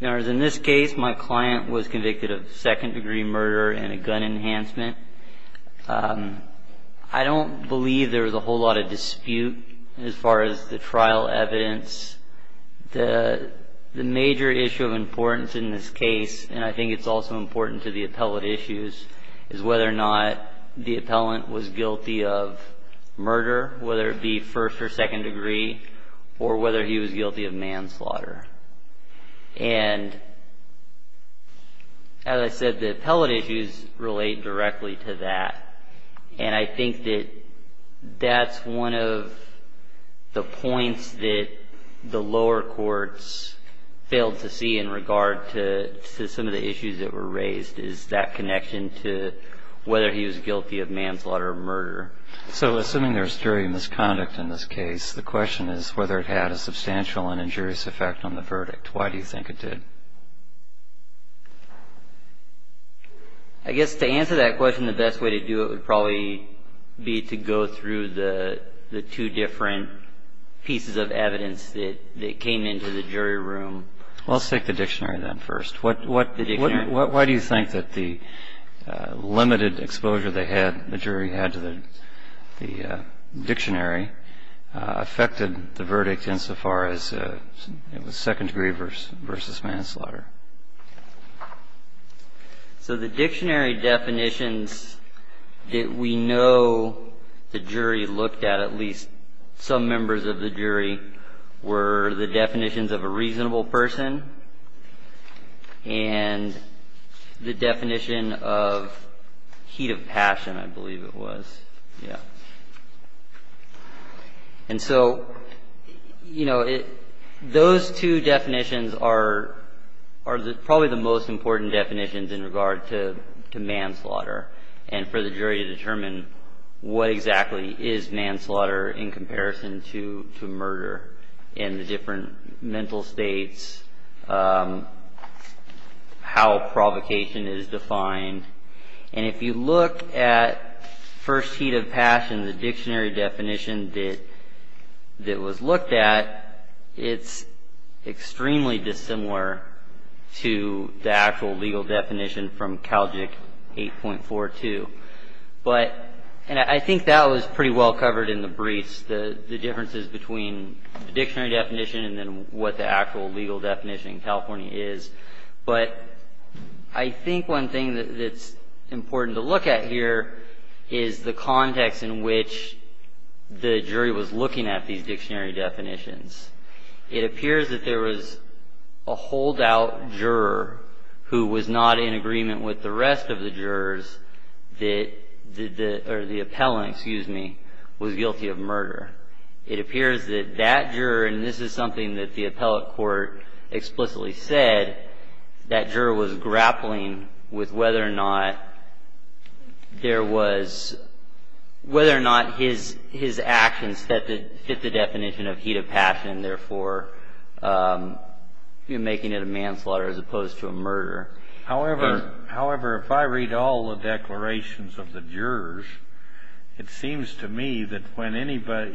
In this case, my client was convicted of second-degree murder and a gun enhancement. I don't believe there was a whole lot of dispute as far as the trial evidence. The major issue of importance in this case, and I think it's also important to the appellate issues, is whether or not the appellant was guilty of murder, whether it be first or second degree, or whether he was guilty of manslaughter. And as I said, the appellate issues relate directly to that, and I think that that's one of the points that the lower courts failed to see in regard to some of the issues that were raised, is that connection to whether he was guilty of manslaughter or murder. So assuming there's jury misconduct in this case, the question is whether it had a substantial and injurious effect on the verdict. Why do you think it did? I guess to answer that question, the best way to do it would probably be to go through the two different pieces of evidence that came into the jury room. Well, let's take the dictionary then first. Why do you think that the limited exposure the jury had to the dictionary affected the verdict insofar as it was second degree versus manslaughter? So the dictionary definitions that we know the jury looked at, at least some members of the jury, were the definitions of a reasonable person, and the definition of heat of passion, I believe it was. And so those two definitions are probably the most important definitions in regard to manslaughter, and for the jury to determine what exactly is manslaughter in comparison to murder, and the different mental states, how provocation is defined. And if you look at first heat of passion, the dictionary definition that was looked at, it's extremely dissimilar to the actual legal definition from Calgic 8.42. But, and I think that was pretty well covered in the briefs, the differences between the dictionary definition and then what the actual legal definition in California is. But I think one thing that's important to look at here is the context in which the jury was looking at these dictionary definitions. It appears that there was a holdout juror who was not in agreement with the rest of the jurors or the appellant, excuse me, was guilty of murder. It appears that that juror, and this is something that the appellate court explicitly said, that juror was grappling with whether or not there was, whether or not his actions fit the definition of heat of passion, therefore making it a manslaughter as opposed to a murder. However, if I read all the declarations of the jurors, it seems to me that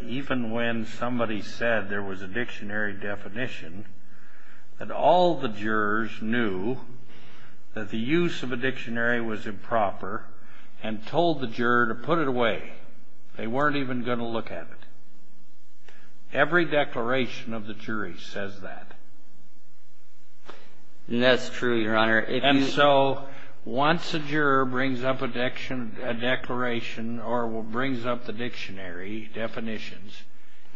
even when somebody said there was a dictionary definition, that all the jurors knew that the use of a dictionary was improper and told the juror to put it away. They weren't even going to look at it. Every declaration of the jury says that. And that's true, Your Honor. And so once a juror brings up a declaration or brings up the dictionary definitions,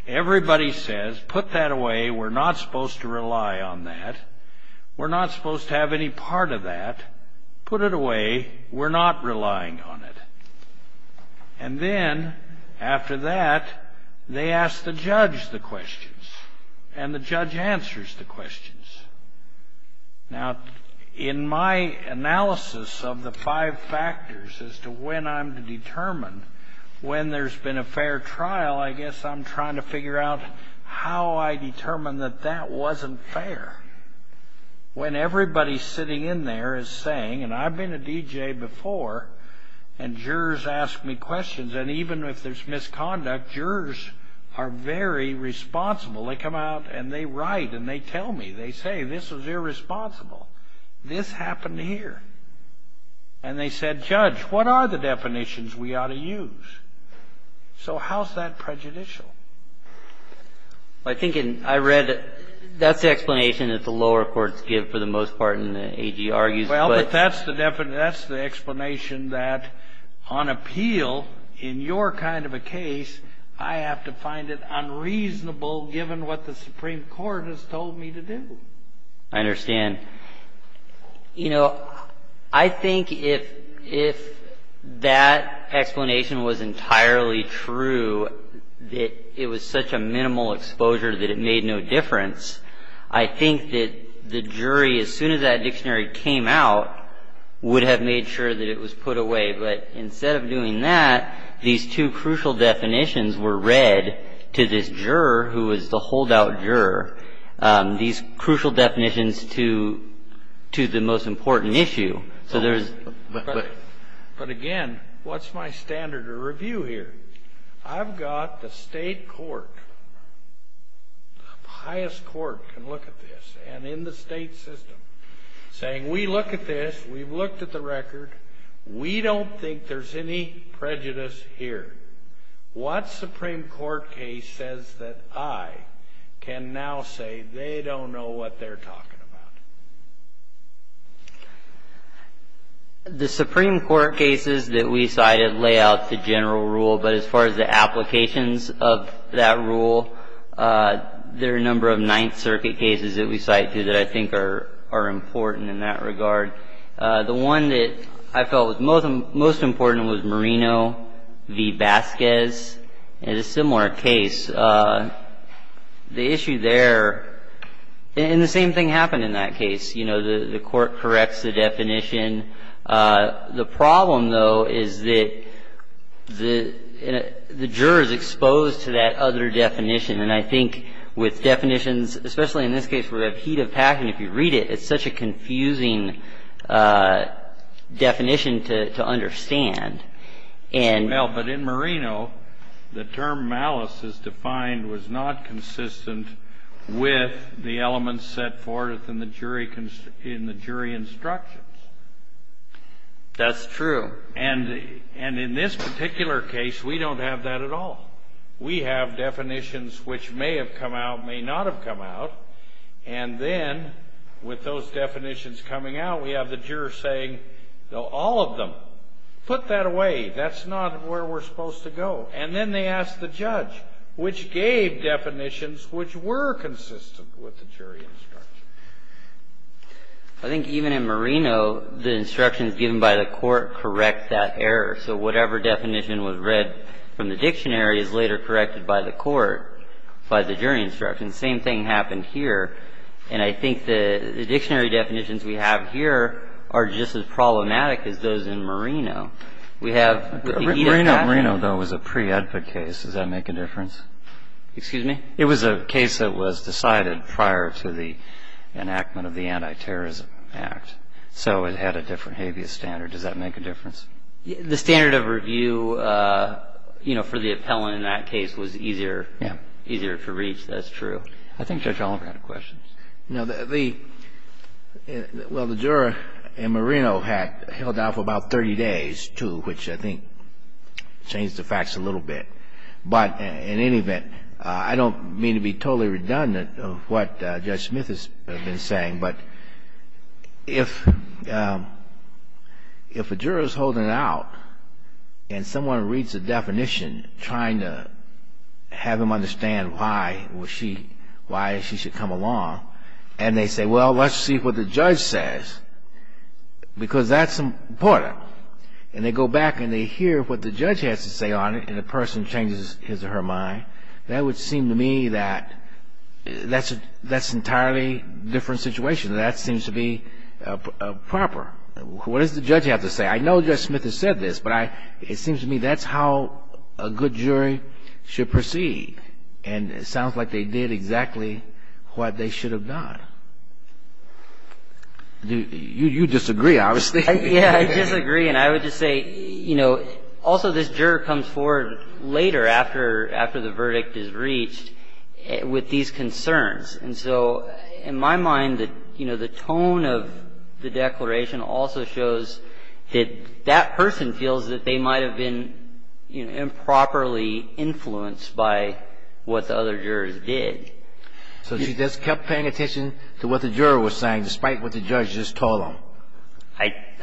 everybody says put that away. We're not supposed to rely on that. We're not supposed to have any part of that. Put it away. We're not relying on it. And then after that, they ask the judge the questions, and the judge answers the questions. Now, in my analysis of the five factors as to when I'm determined, when there's been a fair trial, I guess I'm trying to figure out how I determine that that wasn't fair. When everybody sitting in there is saying, and I've been a DJ before and jurors ask me questions, and even if there's misconduct, jurors are very responsible. They come out and they write and they tell me. They say this was irresponsible. This happened here. And they said, Judge, what are the definitions we ought to use? So how is that prejudicial? I think I read that's the explanation that the lower courts give for the most part and the AG argues. Well, but that's the definition. That's the explanation that on appeal in your kind of a case, I have to find it unreasonable given what the Supreme Court has told me to do. I understand. You know, I think if that explanation was entirely true, that it was such a minimal exposure that it made no difference, I think that the jury, as soon as that dictionary came out, would have made sure that it was put away. But instead of doing that, these two crucial definitions were read to this juror who was the holdout juror, these crucial definitions to the most important issue. But again, what's my standard of review here? I've got the state court, the highest court can look at this, and in the state system saying we look at this, we've looked at the record, we don't think there's any prejudice here. What Supreme Court case says that I can now say they don't know what they're talking about? The Supreme Court cases that we cited lay out the general rule, but as far as the applications of that rule, there are a number of Ninth Circuit cases that we cite here that I think are important in that regard. The one that I felt was most important was Marino v. Vasquez. It's a similar case. The issue there, and the same thing happened in that case. You know, the court corrects the definition. The problem, though, is that the juror is exposed to that other definition, and I think with definitions, especially in this case where we have heat of passion, if you read it, it's such a confusing definition to understand. Well, but in Marino, the term malice, as defined, was not consistent with the elements set forth in the jury instructions. That's true. And in this particular case, we don't have that at all. We have definitions which may have come out, may not have come out, and then with those definitions coming out, we have the juror saying, all of them, put that away. That's not where we're supposed to go. And then they ask the judge which gave definitions which were consistent with the jury instructions. I think even in Marino, the instructions given by the court correct that error, so whatever definition was read from the dictionary is later corrected by the court, by the jury instructions. The same thing happened here, and I think the dictionary definitions we have here are just as problematic as those in Marino. We have heat of passion. Marino, though, was a pre-Edford case. Does that make a difference? Excuse me? It was a case that was decided prior to the enactment of the Anti-Terrorism Act, so it had a different habeas standard. Does that make a difference? The standard of review, you know, for the appellant in that case was easier to reach. That's true. I think Judge Oliver had a question. No. Well, the juror in Marino had held out for about 30 days, too, which I think changed the facts a little bit. But in any event, I don't mean to be totally redundant of what Judge Smith has been saying, but if a juror is holding out and someone reads a definition trying to have him understand why she should come along and they say, well, let's see what the judge says, because that's important, and they go back and they hear what the judge has to say on it and the person changes his or her mind, that would seem to me that that's an entirely different situation. That seems to be proper. What does the judge have to say? I know Judge Smith has said this, but it seems to me that's how a good jury should proceed. And it sounds like they did exactly what they should have done. You disagree, obviously. Yeah, I disagree. And I would just say, you know, also this juror comes forward later after the verdict is reached with these concerns. And so in my mind, you know, the tone of the declaration also shows that that person feels that they might have been, you know, improperly influenced by what the other jurors did. So she just kept paying attention to what the juror was saying despite what the judge just told them.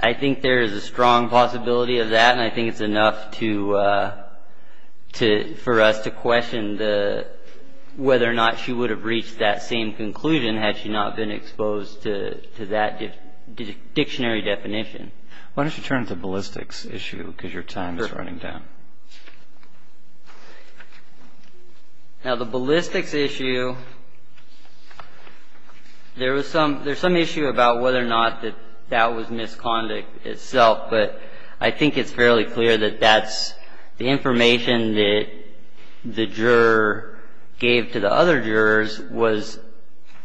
I think there is a strong possibility of that, and I think it's enough for us to question whether or not she would have reached that same conclusion had she not been exposed to that dictionary definition. Why don't you turn to the ballistics issue because your time is running down. Sure. Now, the ballistics issue, there's some issue about whether or not that that was misconduct itself, but I think it's fairly clear that that's the information that the juror gave to the other jurors was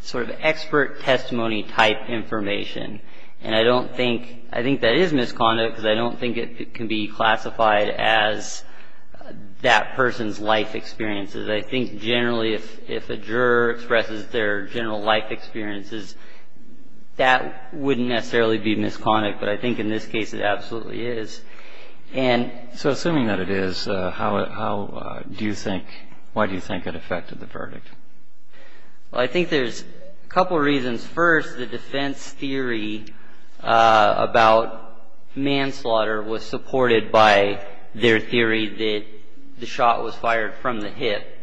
sort of expert testimony type information. And I don't think, I think that is misconduct because I don't think it can be classified as that person's life experiences. I think generally if a juror expresses their general life experiences, that wouldn't necessarily be misconduct, but I think in this case it absolutely is. So assuming that it is, how do you think, why do you think it affected the verdict? Well, I think there's a couple of reasons. First, the defense theory about manslaughter was supported by their theory that the shot was fired from the hip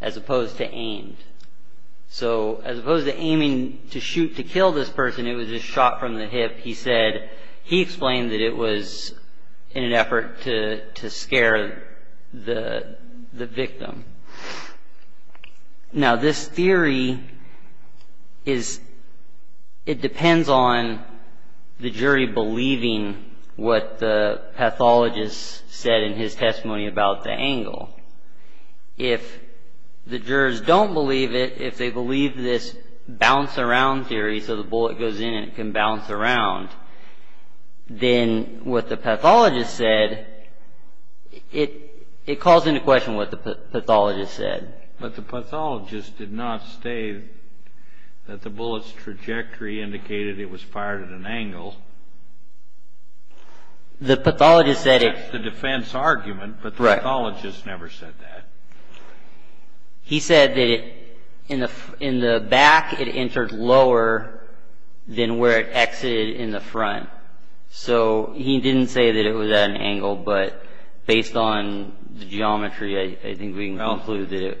as opposed to aimed. So as opposed to aiming to shoot to kill this person, it was a shot from the hip. He said, he explained that it was in an effort to scare the victim. Now, this theory is, it depends on the jury believing what the pathologist said in his testimony about the angle. If the jurors don't believe it, if they believe this bounce around theory, so the bullet goes in and it can bounce around, then what the pathologist said, it calls into question what the pathologist said. But the pathologist did not state that the bullet's trajectory indicated it was fired at an angle. The pathologist said it... That's the defense argument, but the pathologist never said that. He said that in the back it entered lower than where it exited in the front. So he didn't say that it was at an angle, but based on the geometry, I think we can conclude that it...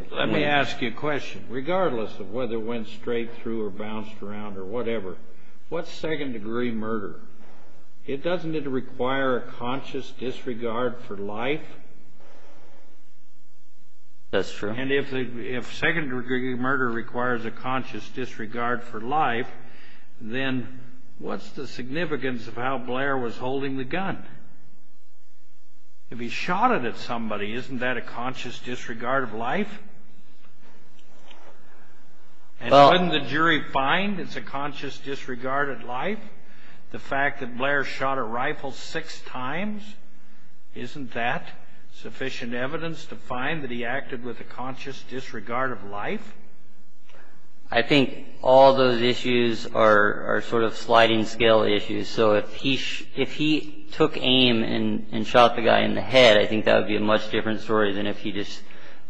It doesn't need to require a conscious disregard for life. That's true. And if secondary murder requires a conscious disregard for life, then what's the significance of how Blair was holding the gun? If he shot it at somebody, isn't that a conscious disregard of life? And wouldn't the jury find it's a conscious disregard of life? The fact that Blair shot a rifle six times, isn't that sufficient evidence to find that he acted with a conscious disregard of life? I think all those issues are sort of sliding scale issues, so if he took aim and shot the guy in the head, I think that would be a much different story than if he just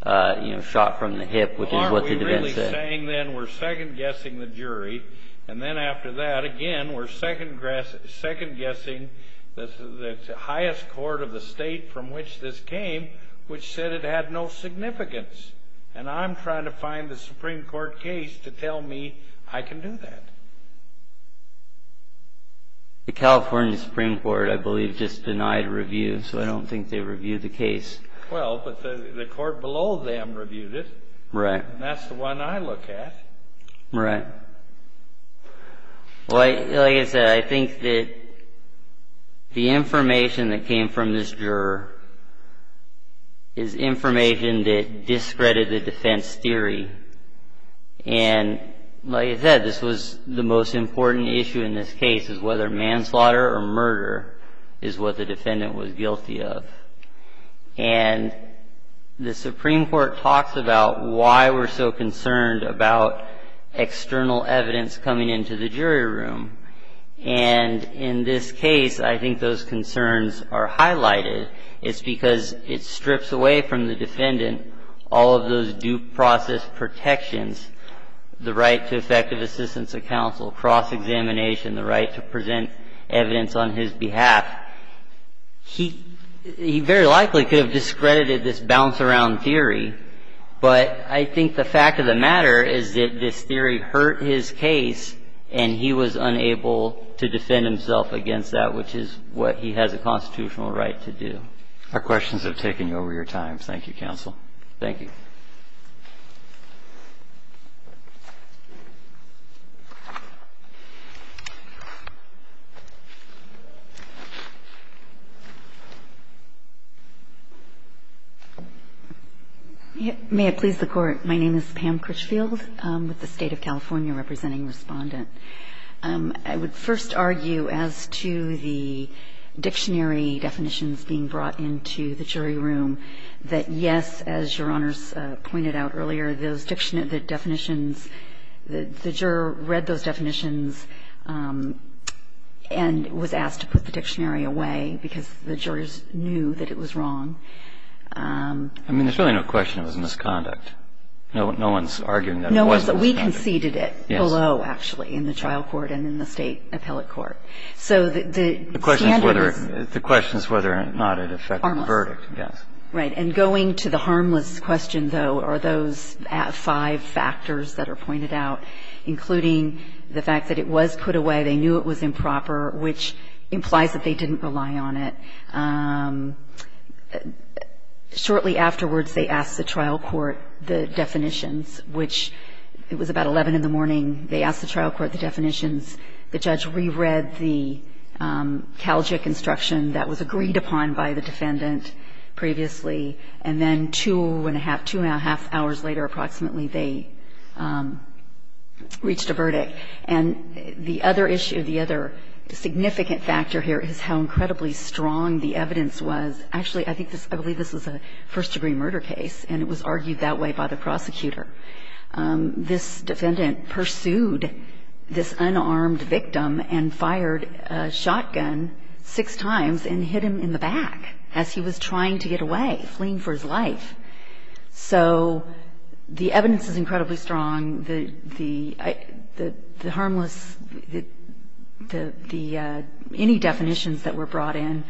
shot from the hip, which is what the defense said. You're saying then we're second-guessing the jury, and then after that, again, we're second-guessing the highest court of the state from which this came, which said it had no significance, and I'm trying to find the Supreme Court case to tell me I can do that. The California Supreme Court, I believe, just denied a review, so I don't think they reviewed the case. Well, but the court below them reviewed it. Right. And that's the one I look at. Right. Well, like I said, I think that the information that came from this juror is information that discredited the defense theory, and like I said, this was the most important issue in this case, is whether manslaughter or murder is what the defendant was guilty of. And the Supreme Court talks about why we're so concerned about external evidence coming into the jury room, and in this case, I think those concerns are highlighted. It's because it strips away from the defendant all of those due process protections, the right to effective assistance of counsel, cross-examination, the right to present evidence on his behalf. He very likely could have discredited this bounce-around theory, but I think the fact of the matter is that this theory hurt his case, and he was unable to defend himself against that, which is what he has a constitutional right to do. Our questions have taken you over your time. Thank you, Counsel. Thank you. Ms. Critchfield. May it please the Court. My name is Pam Critchfield with the State of California, representing Respondent. I would first argue as to the dictionary definitions being brought into the jury room that, yes, as Your Honors pointed out earlier, those definitions, the juror read those definitions and was asked to put the dictionary away because the jurors knew that it was wrong. I mean, there's really no question it was misconduct. No one's arguing that it was misconduct. We conceded it below, actually, in the trial court and in the State appellate court. So the standard is... The question is whether or not it affected the verdict. Harmless. Yes. Right. And going to the harmless question, though, are those five factors that are pointed out, including the fact that it was put away, they knew it was improper, which implies that they didn't rely on it. Shortly afterwards, they asked the trial court the definitions, which it was about 11 in the morning. They asked the trial court the definitions. The judge reread the Calgic instruction that was agreed upon by the defendant previously, and then two-and-a-half, two-and-a-half hours later, approximately, they reached a verdict. And the other issue, the other significant factor here is how incredibly strong the evidence was. Actually, I believe this was a first-degree murder case, and it was argued that way by the prosecutor. This defendant pursued this unarmed victim and fired a shotgun six times and hit him in the back as he was trying to get away. He was fleeing for his life. So the evidence is incredibly strong. The harmless, any definitions that were brought in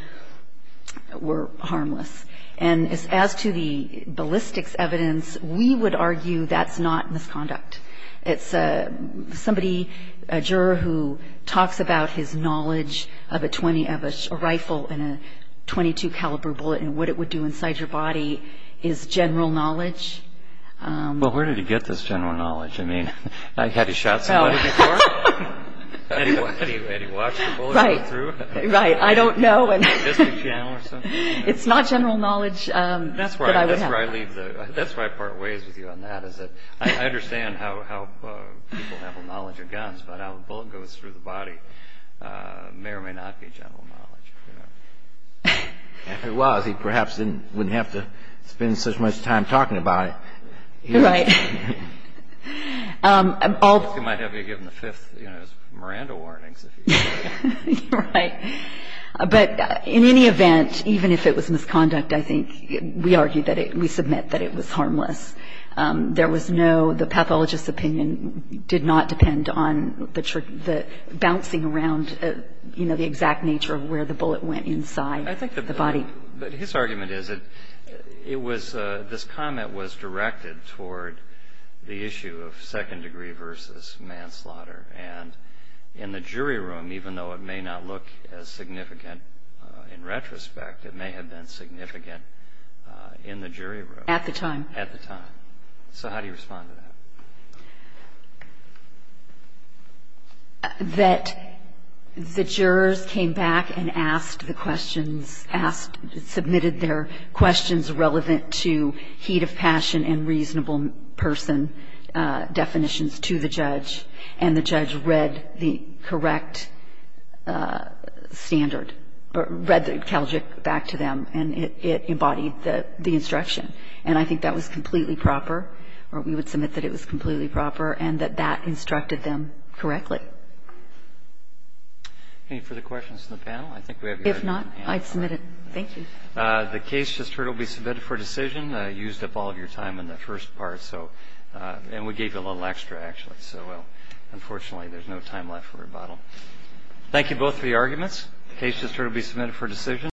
were harmless. And as to the ballistics evidence, we would argue that's not misconduct. It's somebody, a juror who talks about his knowledge of a rifle and a .22 caliber bullet and what it would do inside your body is general knowledge. Well, where did he get this general knowledge? I mean, had he shot somebody before? Had he watched the bullet go through? Right, right. I don't know. It's not general knowledge that I would have. That's why I part ways with you on that, is that I understand how people have a knowledge of guns, but how a bullet goes through the body may or may not be general knowledge. If it was, he perhaps wouldn't have to spend such much time talking about it. Right. He might have been given the fifth Miranda warnings. Right. But in any event, even if it was misconduct, I think we argue that it, we submit that it was harmless. There was no, the pathologist's opinion did not depend on the bouncing around, you know, the exact nature of where the bullet went inside the body. But his argument is that it was, this comment was directed toward the issue of second degree versus manslaughter. And in the jury room, even though it may not look as significant in retrospect, it may have been significant in the jury room. At the time. At the time. So how do you respond to that? That the jurors came back and asked the questions, asked, submitted their questions relevant to heat of passion and reasonable person definitions to the judge, and the judge read the correct standard, read the calgic back to them, and it embodied the instruction. And I think that was completely proper, or we would submit that it was completely proper. And that that instructed them correctly. Any further questions from the panel? I think we have your hand up. If not, I'd submit it. Thank you. The case just heard will be submitted for decision. I used up all of your time in the first part, so, and we gave you a little extra, actually. So, unfortunately, there's no time left for rebuttal. Thank you both for your arguments. The case just heard will be submitted for decision.